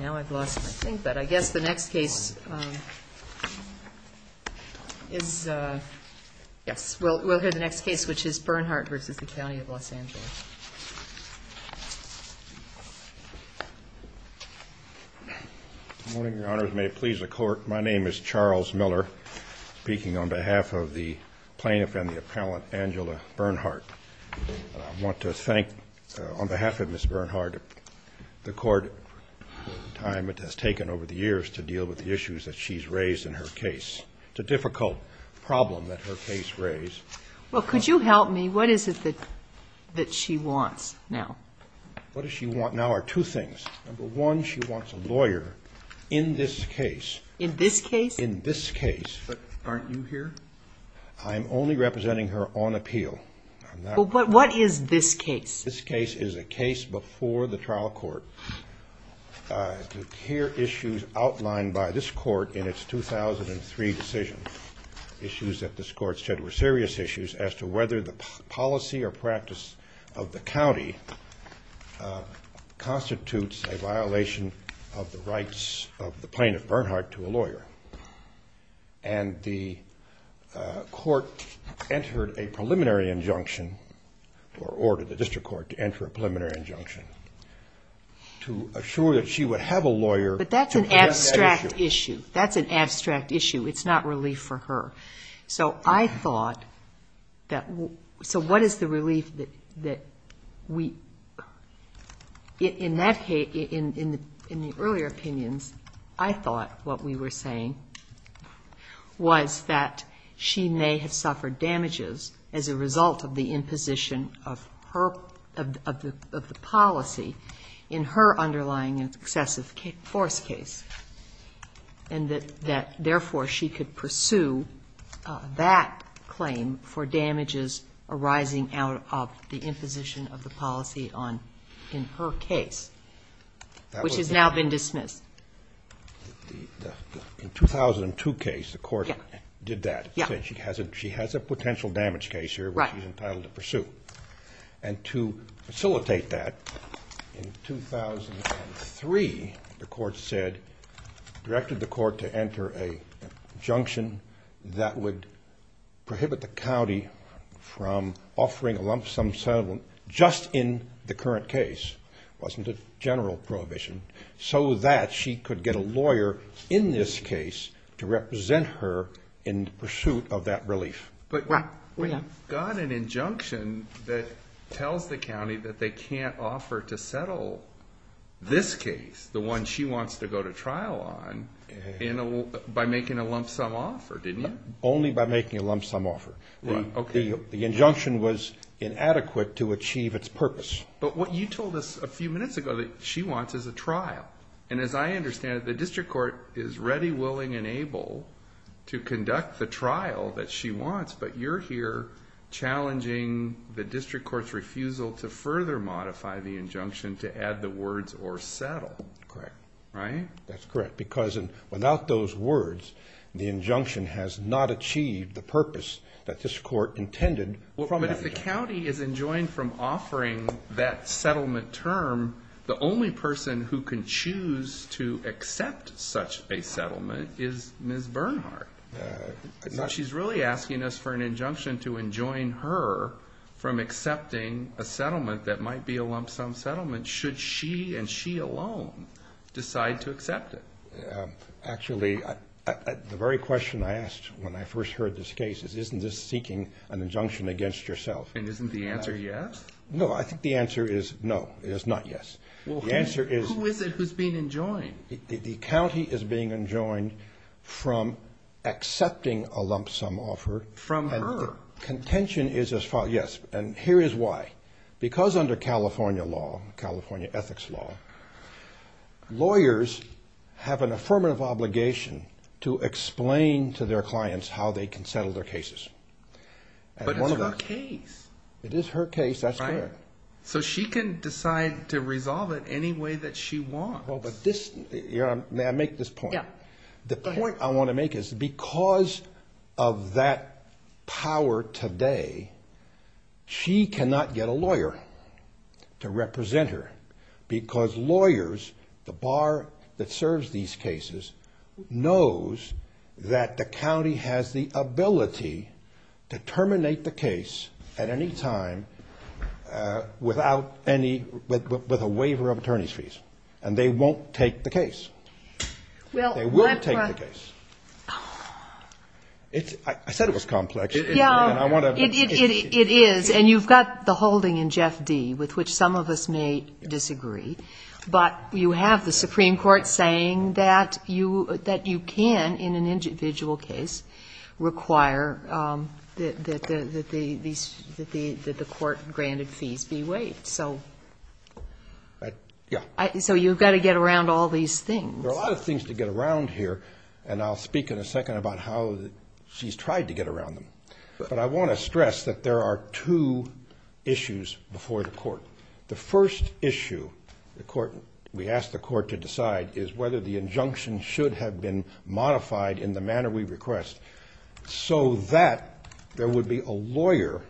Now I've lost my thing, but I guess the next case is, yes, we'll hear the next case, which is Bernhardt v. The County of Los Angeles. Good morning, Your Honors. May it please the Court, my name is Charles Miller, speaking on behalf of the plaintiff and the appellant, Angela Bernhardt. I want to thank, on behalf of Ms. Bernhardt, the Court for the time it has taken over the years to deal with the issues that she's raised in her case. It's a difficult problem that her case raised. Well, could you help me? What is it that she wants now? What does she want now are two things. Number one, she wants a lawyer in this case. In this case? In this case. But aren't you here? I'm only representing her on appeal. Well, what is this case? This case is a case before the trial court. Here are issues outlined by this court in its 2003 decision, issues that this court said were serious issues as to whether the policy or practice of the county constitutes a violation of the rights of the plaintiff, Bernhardt, to a lawyer. And the court entered a preliminary injunction, or ordered the district court to enter a preliminary injunction, to assure that she would have a lawyer to address that issue. But that's an abstract issue. That's an abstract issue. It's not relief for her. So I thought that what is the relief that we, in the earlier opinions, I thought what we were saying was that she may have suffered damages as a result of the imposition of the policy in her underlying excessive force case. And that, therefore, she could pursue that claim for damages arising out of the imposition of the policy on, in her case, which has now been dismissed. In the 2002 case, the court did that. Yeah. She has a potential damage case here which she's entitled to pursue. Right. And to facilitate that, in 2003, the court said, directed the court to enter a injunction that would prohibit the county from offering a lump sum settlement just in the current case. It wasn't a general prohibition. So that she could get a lawyer in this case to represent her in pursuit of that relief. But you got an injunction that tells the county that they can't offer to settle this case, the one she wants to go to trial on, by making a lump sum offer, didn't you? Only by making a lump sum offer. Right. Okay. The injunction was inadequate to achieve its purpose. But what you told us a few minutes ago that she wants is a trial. And as I understand it, the district court is ready, willing, and able to conduct the trial that she wants. But you're here challenging the district court's refusal to further modify the injunction to add the words or settle. Correct. Right? That's correct. Because without those words, the injunction has not achieved the purpose that this court intended. Well, but if the county is enjoined from offering that settlement term, the only person who can choose to accept such a settlement is Ms. Bernhardt. So she's really asking us for an injunction to enjoin her from accepting a settlement that might be a lump sum settlement, should she and she alone decide to accept it. Actually, the very question I asked when I first heard this case is, isn't this seeking an injunction against yourself? And isn't the answer yes? No. I think the answer is no. It is not yes. Well, who is it who's being enjoined? The county is being enjoined from accepting a lump sum offer. From her. And the contention is as follows. Yes. And here is why. Because under California law, California ethics law, lawyers have an affirmative obligation to explain to their clients how they can settle their cases. But it's her case. It is her case. That's correct. So she can decide to resolve it any way that she wants. May I make this point? Yeah. Go ahead. The point I want to make is because of that power today, she cannot get a lawyer to represent her. Because lawyers, the bar that serves these cases, knows that the county has the ability to terminate the case at any time without any, with a waiver of attorney's fees. They will take the case. I said it was complex. Yeah. It is. And you've got the holding in Jeff D., with which some of us may disagree. But you have the Supreme Court saying that you can, in an individual case, require that the court-granted fees be waived. So you've got to get around all these things. There are a lot of things to get around here, and I'll speak in a second about how she's tried to get around them. But I want to stress that there are two issues before the court. The first issue we ask the court to decide is whether the injunction should have been modified in the manner we request, so that there would be a lawyer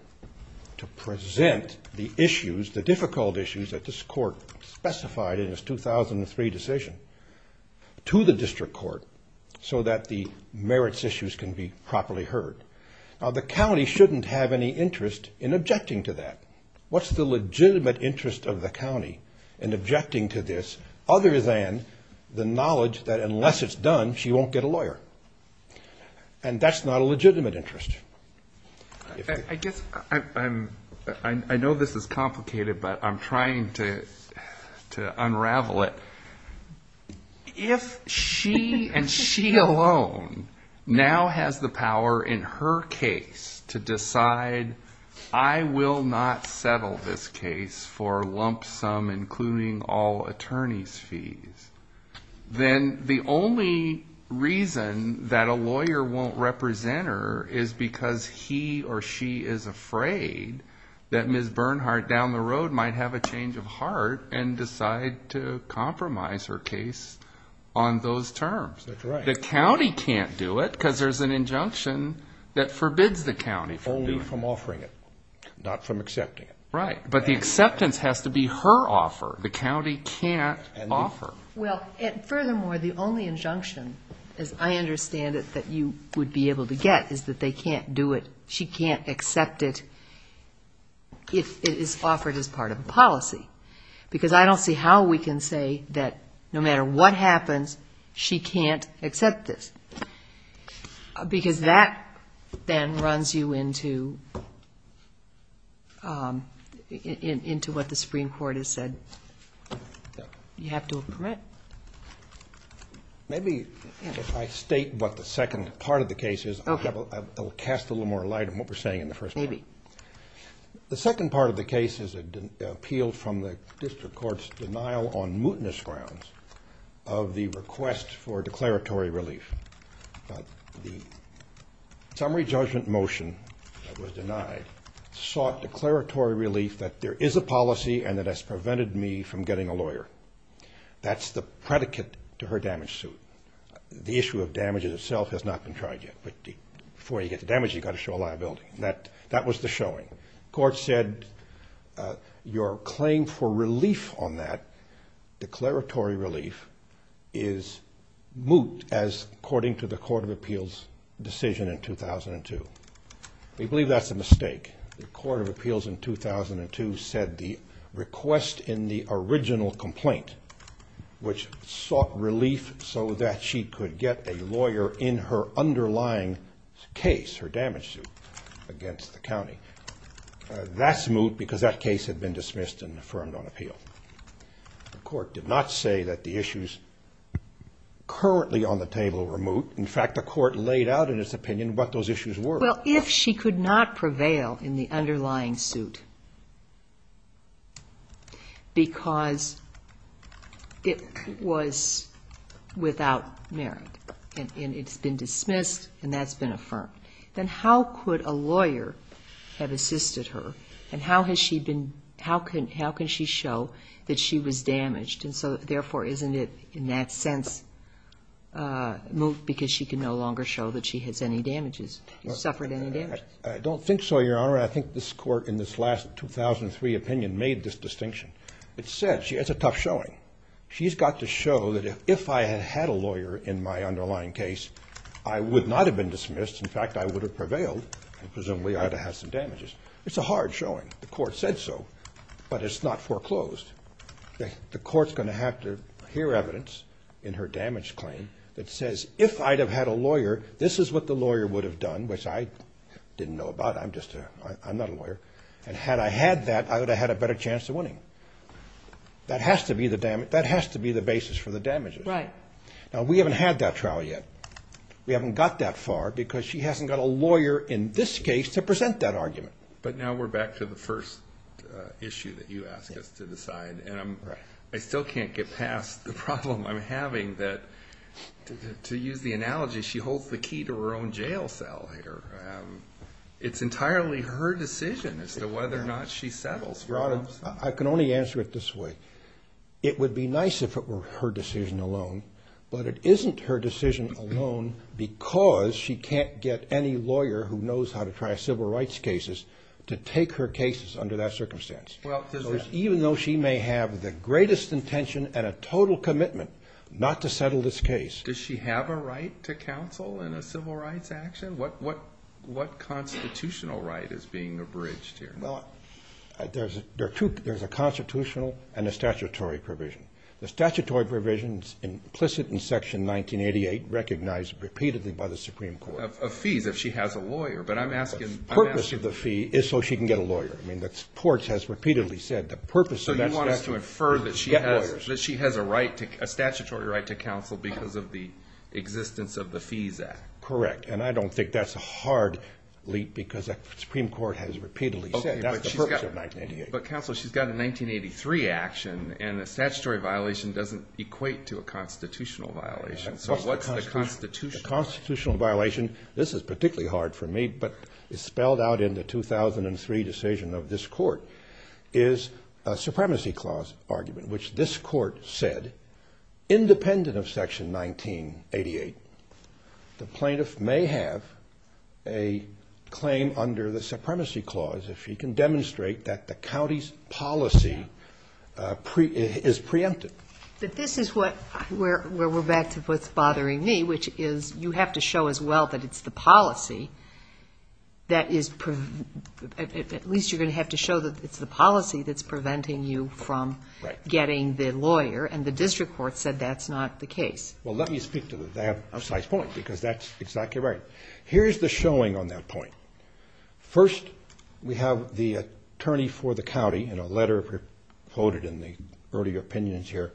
to present the issues, the difficult issues that this court specified in its 2003 decision, to the district court so that the merits issues can be properly heard. Now, the county shouldn't have any interest in objecting to that. What's the legitimate interest of the county in objecting to this other than the knowledge that unless it's done, she won't get a lawyer? And that's not a legitimate interest. I guess I'm ‑‑ I know this is complicated, but I'm trying to unravel it. If she and she alone now has the power in her case to decide, I will not settle this case for lump sum, including all attorney's fees, then the only reason that a lawyer won't represent her is because he or she is afraid that Ms. Bernhardt down the road might have a change of heart and decide to compromise her case on those terms. That's right. The county can't do it because there's an injunction that forbids the county from doing it. Only from offering it, not from accepting it. Right. But the acceptance has to be her offer. The county can't offer. Well, furthermore, the only injunction, as I understand it, that you would be able to get is that they can't do it, she can't accept it if it is offered as part of a policy. Because I don't see how we can say that no matter what happens, she can't accept this. Because that then runs you into what the Supreme Court has said you have to permit. Maybe if I state what the second part of the case is, I'll cast a little more light on what we're saying in the first part. Maybe. The second part of the case is an appeal from the district court's denial on mootness grounds of the request for declaratory relief. The summary judgment motion that was denied sought declaratory relief that there is a policy That's the predicate to her damage suit. The issue of damages itself has not been tried yet. But before you get the damage, you've got to show a liability. That was the showing. Court said your claim for relief on that, declaratory relief, is moot as according to the Court of Appeals decision in 2002. We believe that's a mistake. The Court of Appeals in 2002 said the request in the original complaint, which sought relief so that she could get a lawyer in her underlying case, her damage suit, against the county, that's moot because that case had been dismissed and affirmed on appeal. The Court did not say that the issues currently on the table were moot. In fact, the Court laid out in its opinion what those issues were. Well, if she could not prevail in the underlying suit because it was without merit and it's been dismissed and that's been affirmed, then how could a lawyer have assisted her and how has she been, how can she show that she was damaged and so therefore isn't it in that sense moot because she can no longer show that she has any damages, suffered any damages? I don't think so, Your Honor. I think this Court in this last 2003 opinion made this distinction. It said she has a tough showing. She's got to show that if I had had a lawyer in my underlying case, I would not have been dismissed. In fact, I would have prevailed. Presumably I would have had some damages. It's a hard showing. The Court said so, but it's not foreclosed. The Court's going to have to hear evidence in her damage claim that says if I'd have had a lawyer, this is what the lawyer would have done, which I didn't know about. I'm just a, I'm not a lawyer. And had I had that, I would have had a better chance of winning. That has to be the basis for the damages. Right. Now, we haven't had that trial yet. We haven't got that far because she hasn't got a lawyer in this case to present that argument. But now we're back to the first issue that you asked us to decide. And I'm, I still can't get past the problem I'm having that, to use the analogy, she holds the key to her own jail cell here. It's entirely her decision as to whether or not she settles. Your Honor, I can only answer it this way. It would be nice if it were her decision alone, but it isn't her decision alone because she can't get any lawyer who knows how to try civil rights cases to take her cases under that circumstance. Even though she may have the greatest intention and a total commitment not to settle this case. Does she have a right to counsel in a civil rights action? What constitutional right is being abridged here? Well, there's a constitutional and a statutory provision. The statutory provision is implicit in Section 1988, recognized repeatedly by the Supreme Court. Of fees if she has a lawyer, but I'm asking. The purpose of the fee is so she can get a lawyer. I mean, the court has repeatedly said the purpose of that statute is to get lawyers. So you want us to infer that she has a statutory right to counsel because of the existence of the Fees Act. Correct. And I don't think that's a hard leap because the Supreme Court has repeatedly said that's the purpose of 1988. But, counsel, she's got a 1983 action, and a statutory violation doesn't equate to a constitutional violation. So what's the constitutional? The constitutional violation, this is particularly hard for me, but it's spelled out in the 2003 decision of this court, is a supremacy clause argument, which this court said independent of Section 1988, the plaintiff may have a claim under the supremacy clause if she can demonstrate that the county's policy is preempted. But this is what, where we're back to what's bothering me, which is you have to show as well that it's the policy that is, at least you're going to have to show that it's the policy that's preventing you from getting the lawyer. And the district court said that's not the case. Well, let me speak to that. I have a slight point because that's exactly right. Here's the showing on that point. First, we have the attorney for the county in a letter quoted in the earlier opinions here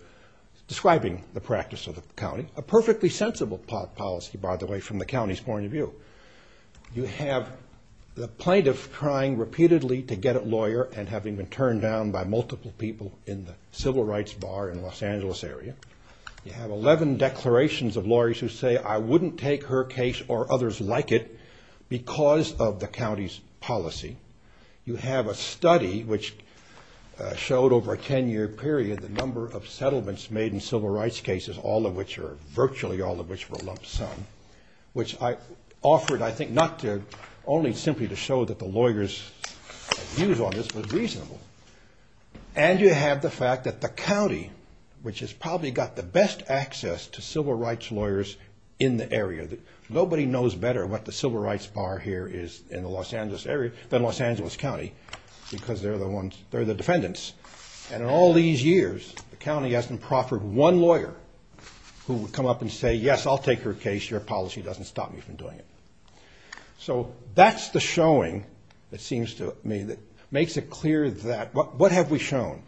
describing the practice of the county, a perfectly sensible policy, by the way, from the county's point of view. You have the plaintiff trying repeatedly to get a lawyer and having been turned down by multiple people in the civil rights bar in the Los Angeles area. You have 11 declarations of lawyers who say, I wouldn't take her case or others like it because of the county's policy. You have a study which showed over a 10-year period the number of settlements made in civil rights cases, all of which are virtually all of which were lump sum, which I offered I think not to only simply to show that the lawyers' views on this were reasonable. And you have the fact that the county, which has probably got the best access to civil rights lawyers in the area, that nobody knows better what the civil rights bar here is in the Los Angeles area than Los Angeles County because they're the defendants. And in all these years, the county hasn't proffered one lawyer who would come up and say, yes, I'll take her case. Your policy doesn't stop me from doing it. So that's the showing, it seems to me, that makes it clear that. What have we shown?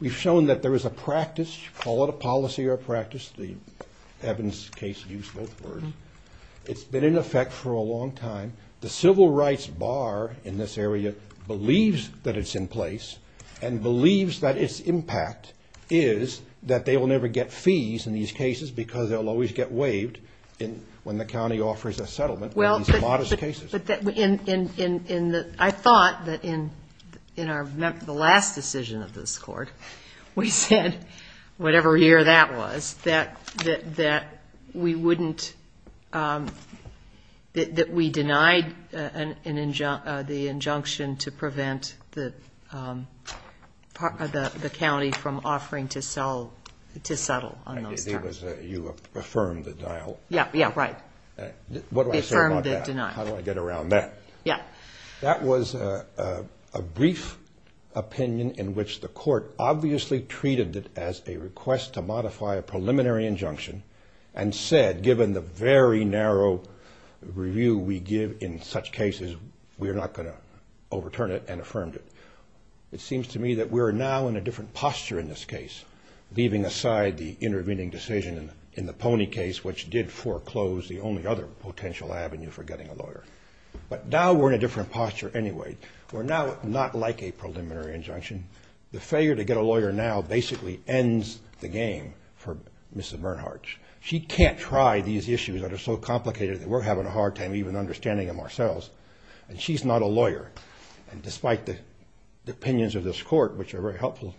We've shown that there is a practice, call it a policy or a practice. The Evans case used both words. It's been in effect for a long time. The civil rights bar in this area believes that it's in place and believes that its impact is that they will never get fees in these cases because they'll always get waived when the county offers a settlement. Well, but in the – I thought that in the last decision of this Court, we said, whatever year that was, that we wouldn't – that we denied the injunction to prevent the county from offering to settle on those terms. You affirmed the dialogue. Yeah, yeah, right. What do I say about that? Affirmed the denial. How do I get around that? Yeah. That was a brief opinion in which the Court obviously treated it as a request to modify a preliminary injunction and said, given the very narrow review we give in such cases, we are not going to overturn it and affirmed it. It seems to me that we are now in a different posture in this case, leaving aside the intervening decision in the Pony case, which did foreclose the only other potential avenue for getting a lawyer. But now we're in a different posture anyway. We're now not like a preliminary injunction. The failure to get a lawyer now basically ends the game for Mrs. Bernhardt. She can't try these issues that are so complicated that we're having a hard time even understanding them ourselves, and she's not a lawyer. And despite the opinions of this Court, which are very helpful,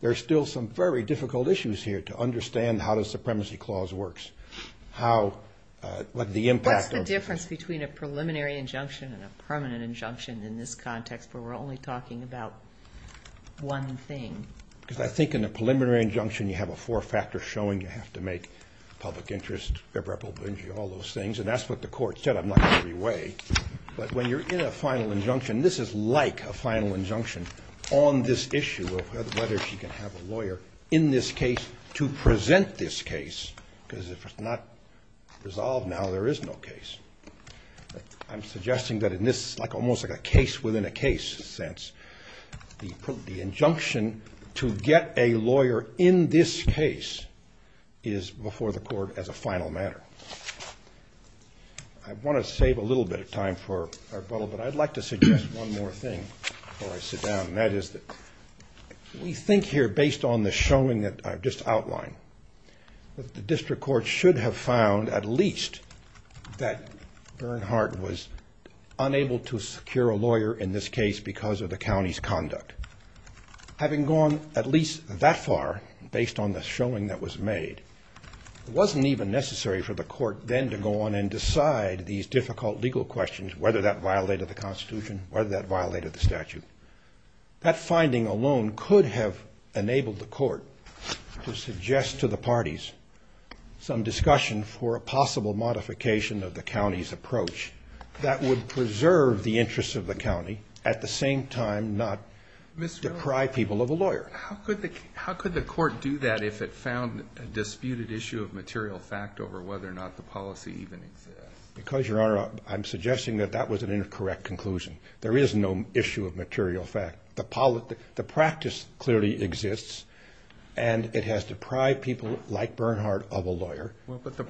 there are still some very difficult issues here to understand how the Supremacy Clause works, what the impact of it is. What's the difference between a preliminary injunction and a permanent injunction in this context where we're only talking about one thing? Because I think in a preliminary injunction you have a four-factor showing. You have to make public interest, irreparable binge, all those things. And that's what the Court said. I'm not going to reweigh. But when you're in a final injunction, this is like a final injunction on this issue of whether she can have a lawyer in this case to present this case, because if it's not resolved now, there is no case. I'm suggesting that in this almost like a case within a case sense, the injunction to get a lawyer in this case is before the Court as a final matter. I want to save a little bit of time for rebuttal, but I'd like to suggest one more thing before I sit down, and that is that we think here based on the showing that I've just outlined, that the District Court should have found at least that Bernhardt was unable to secure a lawyer in this case because of the county's conduct. Having gone at least that far based on the showing that was made, it wasn't even necessary for the Court then to go on and decide these difficult legal questions, whether that violated the Constitution, whether that violated the statute. That finding alone could have enabled the Court to suggest to the parties some discussion for a possible modification of the county's approach that would preserve the interests of the county, at the same time not deprive people of a lawyer. How could the Court do that if it found a disputed issue of material fact over whether or not the policy even exists? Because, Your Honor, I'm suggesting that that was an incorrect conclusion. There is no issue of material fact. The practice clearly exists, and it has deprived people like Bernhardt of a lawyer,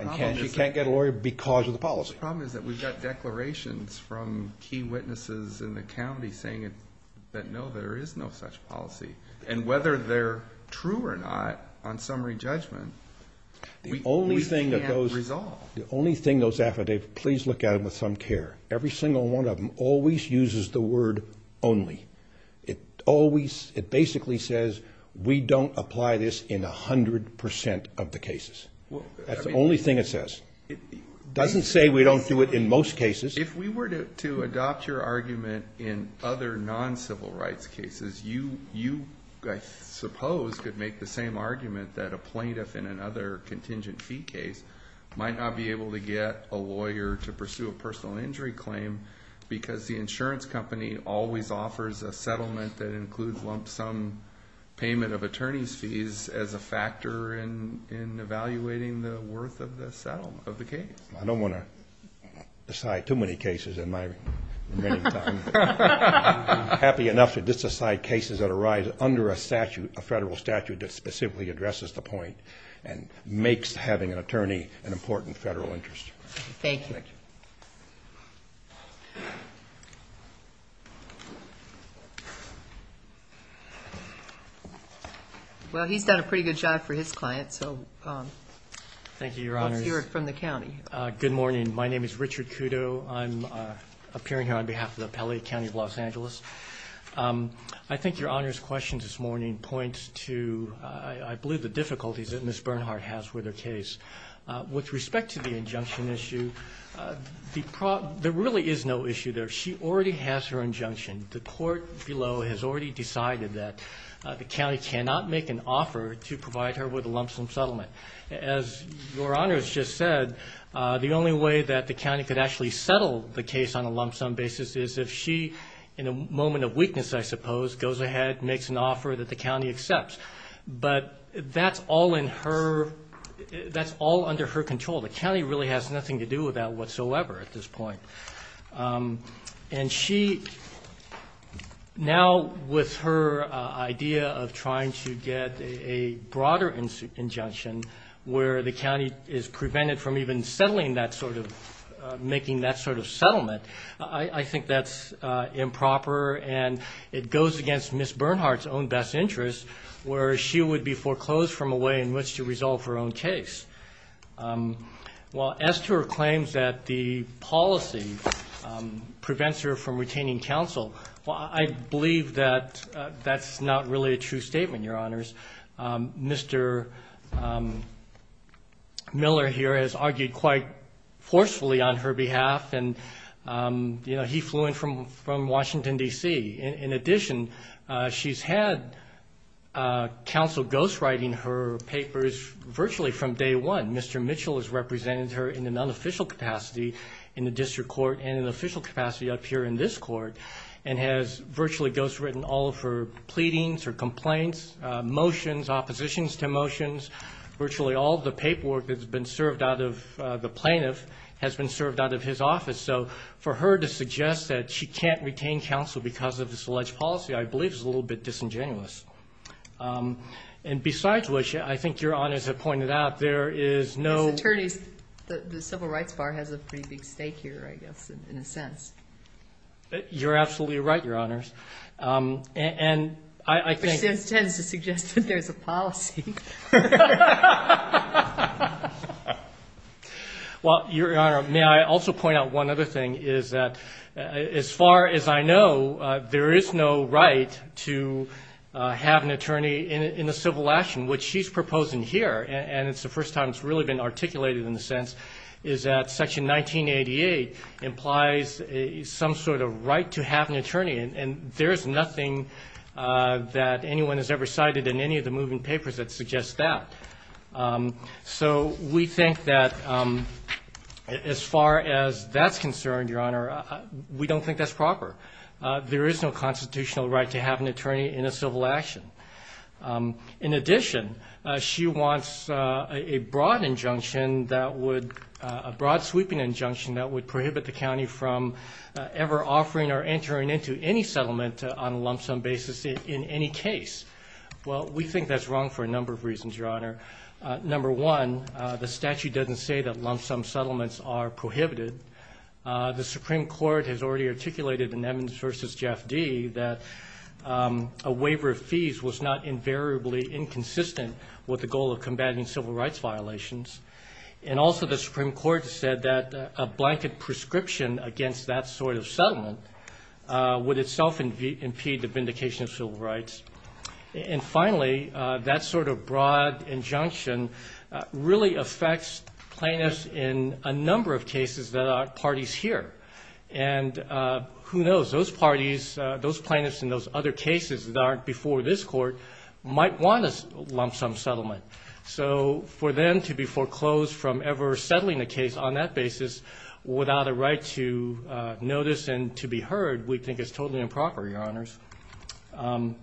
and she can't get a lawyer because of the policy. The problem is that we've got declarations from key witnesses in the county saying that, no, there is no such policy, and whether they're true or not on summary judgment, we can't resolve. The only thing those affidavits, please look at them with some care. Every single one of them always uses the word only. It basically says we don't apply this in 100 percent of the cases. That's the only thing it says. It doesn't say we don't do it in most cases. If we were to adopt your argument in other non-civil rights cases, you, I suppose, could make the same argument that a plaintiff in another contingent fee case might not be able to get a lawyer to pursue a personal injury claim because the insurance company always offers a settlement that includes lump sum payment of attorney's fees as a factor in evaluating the worth of the case. I don't want to decide too many cases in my remaining time. I'm happy enough to disassign cases that arise under a federal statute that specifically addresses the point and makes having an attorney an important federal interest. Thank you. Well, he's done a pretty good job for his client, so let's hear it from the county. Good morning. My name is Richard Kudo. I'm appearing here on behalf of the Appellate County of Los Angeles. I think Your Honor's question this morning points to, I believe, the difficulties that Ms. Bernhardt has with her case. With respect to the injunction issue, there really is no issue there. She already has her injunction. The court below has already decided that the county cannot make an offer to provide her with a lump sum settlement. As Your Honor has just said, the only way that the county could actually settle the case on a lump sum basis is if she, in a moment of weakness, I suppose, goes ahead and makes an offer that the county accepts. But that's all under her control. The county really has nothing to do with that whatsoever at this point. And she, now with her idea of trying to get a broader injunction where the county is prevented from even settling that sort of, making that sort of settlement, I think that's improper, and it goes against Ms. Bernhardt's own best interest where she would be foreclosed from a way in which to resolve her own case. Well, as to her claims that the policy prevents her from retaining counsel, I believe that that's not really a true statement, Your Honors. Mr. Miller here has argued quite forcefully on her behalf, and he flew in from Washington, D.C. In addition, she's had counsel ghostwriting her papers virtually from day one. Mr. Mitchell has represented her in an unofficial capacity in the district court and an official capacity up here in this court, and has virtually ghostwritten all of her pleadings, her complaints, motions, oppositions to motions. Virtually all of the paperwork that's been served out of the plaintiff has been served out of his office. So for her to suggest that she can't retain counsel because of this alleged policy, I believe, is a little bit disingenuous. And besides which, I think Your Honors have pointed out, there is no- Ms. Attorneys, the Civil Rights Bar has a pretty big stake here, I guess, in a sense. You're absolutely right, Your Honors, and I think- Which tends to suggest that there's a policy. Well, Your Honor, may I also point out one other thing is that as far as I know, there is no right to have an attorney in a civil action, which she's proposing here. And it's the first time it's really been articulated in the sense is that Section 1988 implies some sort of right to have an attorney, and there is nothing that anyone has ever cited in any of the moving papers that suggests that. So we think that as far as that's concerned, Your Honor, we don't think that's proper. There is no constitutional right to have an attorney in a civil action. In addition, she wants a broad injunction that would- on a lump-sum basis in any case. Well, we think that's wrong for a number of reasons, Your Honor. Number one, the statute doesn't say that lump-sum settlements are prohibited. The Supreme Court has already articulated in Evans v. Jeff D. that a waiver of fees was not invariably inconsistent with the goal of combating civil rights violations. And also the Supreme Court said that a blanket prescription against that sort of settlement would itself impede the vindication of civil rights. And finally, that sort of broad injunction really affects plaintiffs in a number of cases that are parties here. And who knows? Those parties, those plaintiffs in those other cases that aren't before this Court might want a lump-sum settlement. So for them to be foreclosed from ever settling a case on that basis without a right to notice and to be heard, we think is totally improper, Your Honors. I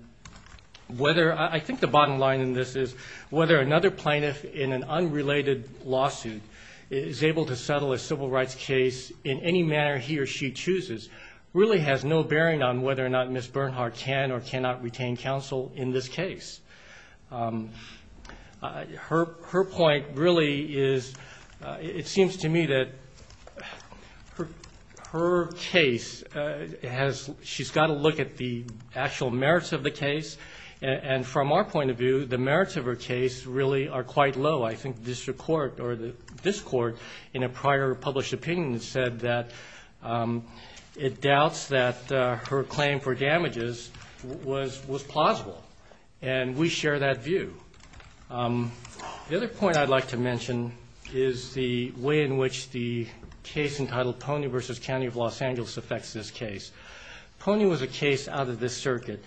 think the bottom line in this is whether another plaintiff in an unrelated lawsuit is able to settle a civil rights case in any manner he or she chooses really has no bearing on whether or not Ms. Bernhard can or cannot retain counsel in this case. Her point really is, it seems to me that her case has, she's got to look at the actual merits of the case. And from our point of view, the merits of her case really are quite low. I think this Court in a prior published opinion said that it doubts that her claim for damages was plausible. And we share that view. The other point I'd like to mention is the way in which the case entitled Pony v. County of Los Angeles affects this case. Pony was a case out of this circuit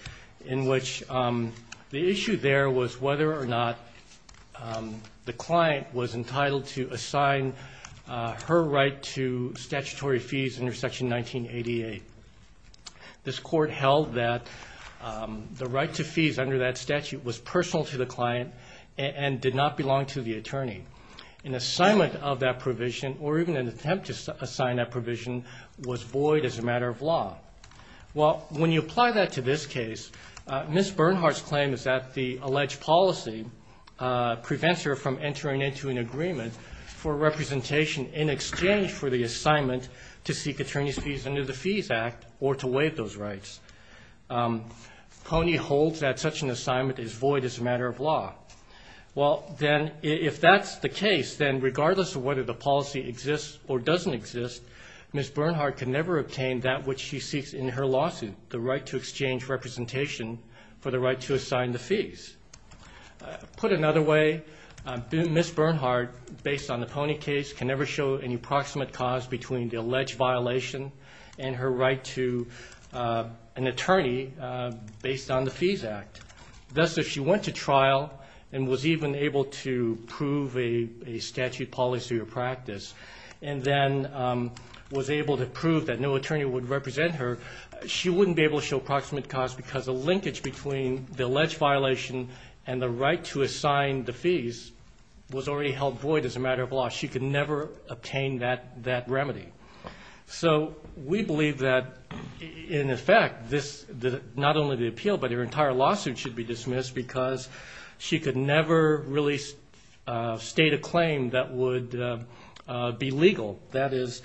in which the issue there was whether or not the client was entitled to assign her right to statutory fees under Section 1988. This Court held that the right to fees under that statute was personal to the client and did not belong to the attorney. An assignment of that provision or even an attempt to assign that provision was void as a matter of law. Well, when you apply that to this case, Ms. Bernhard's claim is that the alleged policy prevents her from entering into an agreement for representation in exchange for the assignment to seek attorney's fees under the Fees Act or to waive those rights. Pony holds that such an assignment is void as a matter of law. Well, then, if that's the case, then regardless of whether the policy exists or doesn't exist, Ms. Bernhard can never obtain that which she seeks in her lawsuit, the right to exchange representation for the right to assign the fees. Put another way, Ms. Bernhard, based on the Pony case, can never show any proximate cause between the alleged violation and her right to an attorney based on the Fees Act. Thus, if she went to trial and was even able to prove a statute, policy, or practice and then was able to prove that no attorney would represent her, she wouldn't be able to show proximate cause because the linkage between the alleged violation and the right to assign the fees was already held void as a matter of law. She could never obtain that remedy. So we believe that, in effect, not only the appeal but her entire lawsuit should be dismissed because she could never really state a claim that would be legal. That is,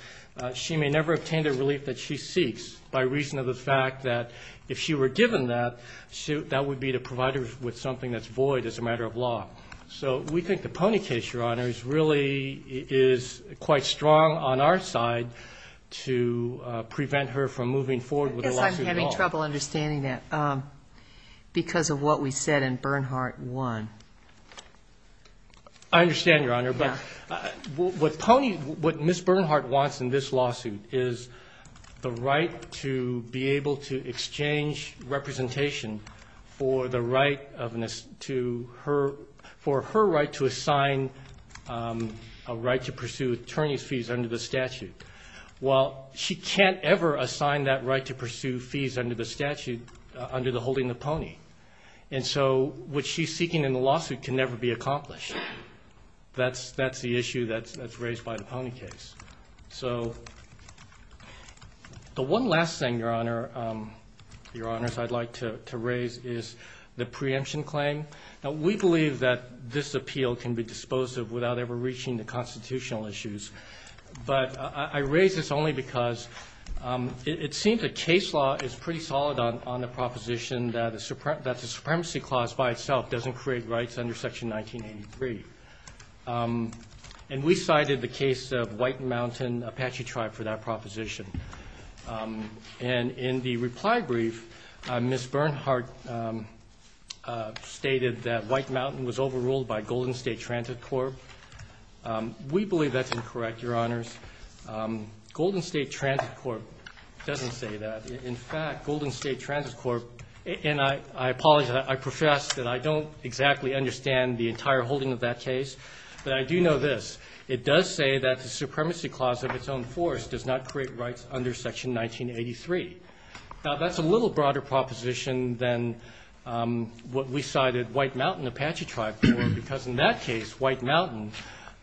she may never obtain the relief that she seeks by reason of the fact that if she were given that, that would be to provide her with something that's void as a matter of law. So we think the Pony case, Your Honor, really is quite strong on our side to prevent her from moving forward with the lawsuit at all. I guess I'm having trouble understanding that because of what we said in Bernhard 1. I understand, Your Honor. But what Pony, what Ms. Bernhard wants in this lawsuit is the right to be able to exchange representation for the right of an to her, for her right to assign a right to pursue attorney's fees under the statute. Well, she can't ever assign that right to pursue fees under the statute, under the holding of Pony. And so what she's seeking in the lawsuit can never be accomplished. That's the issue that's raised by the Pony case. So the one last thing, Your Honor, Your Honors, I'd like to raise is the preemption claim. Now, we believe that this appeal can be disposed of without ever reaching the constitutional issues. But I raise this only because it seems a case law is pretty solid on the proposition that the supremacy clause by itself doesn't create rights under Section 1983. And we cited the case of White Mountain Apache Tribe for that proposition. And in the reply brief, Ms. Bernhard stated that White Mountain was overruled by Golden State Transit Corp. We believe that's incorrect, Your Honors. Golden State Transit Corp doesn't say that. In fact, Golden State Transit Corp, and I apologize, I profess that I don't exactly understand the entire holding of that case. But I do know this. It does say that the supremacy clause of its own force does not create rights under Section 1983. Now, that's a little broader proposition than what we cited White Mountain Apache Tribe for, because in that case, White Mountain,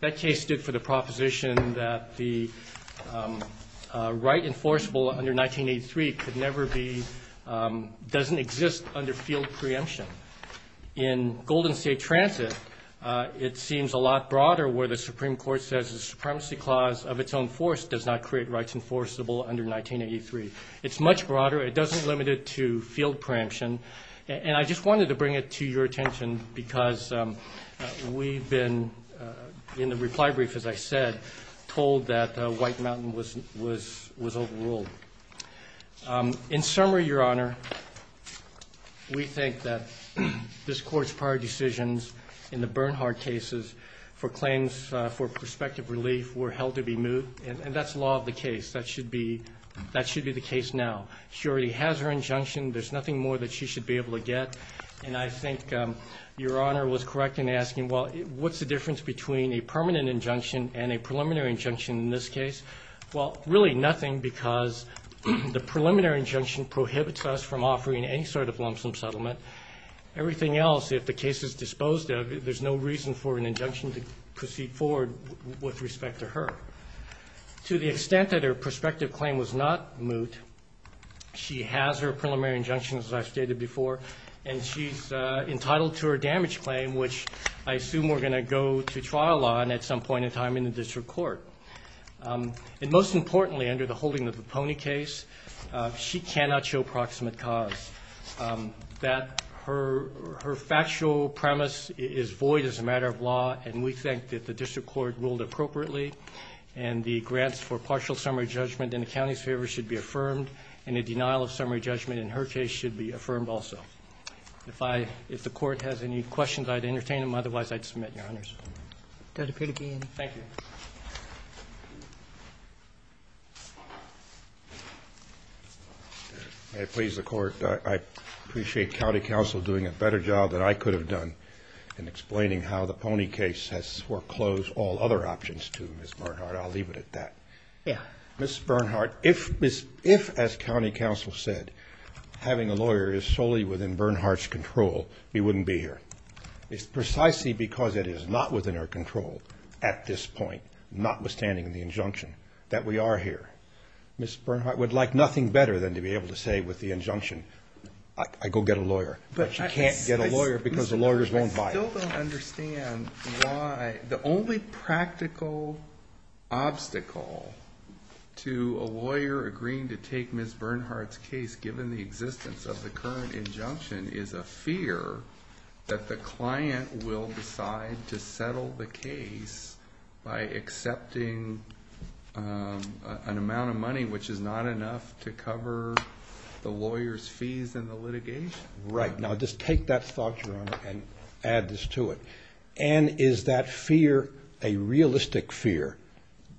that case stood for the proposition that the right enforceable under 1983 could never be, doesn't exist under field preemption. In Golden State Transit, it seems a lot broader where the Supreme Court says the supremacy clause of its own force does not create rights enforceable under 1983. It's much broader. It doesn't limit it to field preemption. And I just wanted to bring it to your attention because we've been, in the reply brief, as I said, told that White Mountain was overruled. In summary, Your Honor, we think that this Court's prior decisions in the Bernhard cases for claims for prospective relief were held to be moot. And that's law of the case. That should be the case now. She already has her injunction. There's nothing more that she should be able to get. And I think Your Honor was correct in asking, well, what's the difference between a permanent injunction and a preliminary injunction in this case? Well, really nothing because the preliminary injunction prohibits us from offering any sort of lump sum settlement. Everything else, if the case is disposed of, there's no reason for an injunction to proceed forward with respect to her. To the extent that her prospective claim was not moot, she has her preliminary injunction, as I've stated before, and she's entitled to her damage claim, which I assume we're going to go to trial on at some point in time in the district court. And most importantly, under the holding of the Pony case, she cannot show proximate cause. That her factual premise is void as a matter of law, and we think that the district court ruled appropriately, and the grants for partial summary judgment in the county's favor should be affirmed, and a denial of summary judgment in her case should be affirmed also. If the court has any questions, I'd entertain them. Otherwise, I'd submit, Your Honors. Dr. Peterbien. Thank you. May I please the court? I appreciate county counsel doing a better job than I could have done in explaining how the Pony case has foreclosed all other options to Ms. Bernhardt. I'll leave it at that. Yeah. Ms. Bernhardt, if, as county counsel said, having a lawyer is solely within Bernhardt's control, we wouldn't be here. It's precisely because it is not within her control at this point, notwithstanding the injunction, that we are here. Ms. Bernhardt would like nothing better than to be able to say with the injunction, I go get a lawyer, but you can't get a lawyer because the lawyers won't buy it. I still don't understand why the only practical obstacle to a lawyer agreeing to take Ms. Bernhardt's case, given the existence of the current injunction, is a fear that the client will decide to settle the case by accepting an amount of money which is not enough to cover the lawyer's fees and the litigation. Right. Now, just take that thought, Your Honor, and add this to it. And is that fear a realistic fear?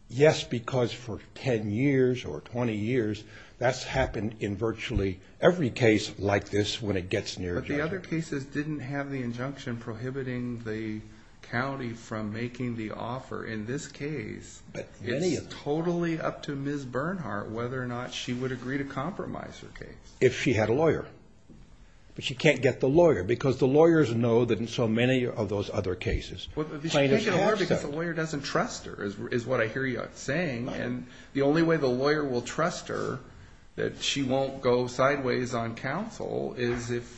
Yes, because for 10 years or 20 years, that's happened in virtually every case like this when it gets near a judgment. But the other cases didn't have the injunction prohibiting the county from making the offer. In this case, it's totally up to Ms. Bernhardt whether or not she would agree to compromise her case. If she had a lawyer. But she can't get the lawyer because the lawyers know that in so many of those other cases, plaintiffs have said. Because the lawyer doesn't trust her, is what I hear you saying. And the only way the lawyer will trust her that she won't go sideways on counsel is if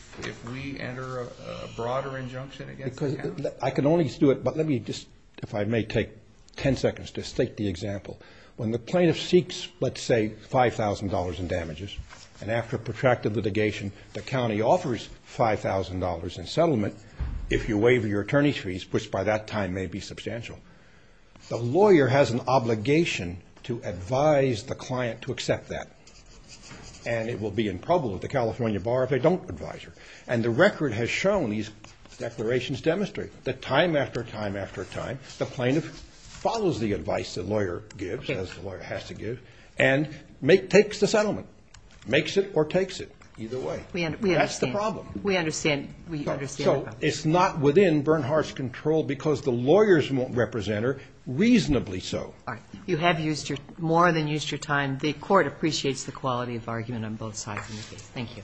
we enter a broader injunction against her. I can only do it, but let me just, if I may, take 10 seconds to state the example. When the plaintiff seeks, let's say, $5,000 in damages, and after protracted litigation, the county offers $5,000 in settlement if you waive your attorney's fees, which by that time may be substantial. The lawyer has an obligation to advise the client to accept that. And it will be in trouble at the California bar if they don't advise her. And the record has shown, these declarations demonstrate, that time after time after time, the plaintiff follows the advice the lawyer gives, as the lawyer has to give, and takes the settlement. Makes it or takes it, either way. That's the problem. We understand. We understand. So it's not within Bernhardt's control because the lawyers won't represent her, reasonably so. All right. You have used your, more than used your time. The Court appreciates the quality of argument on both sides of the case. Thank you.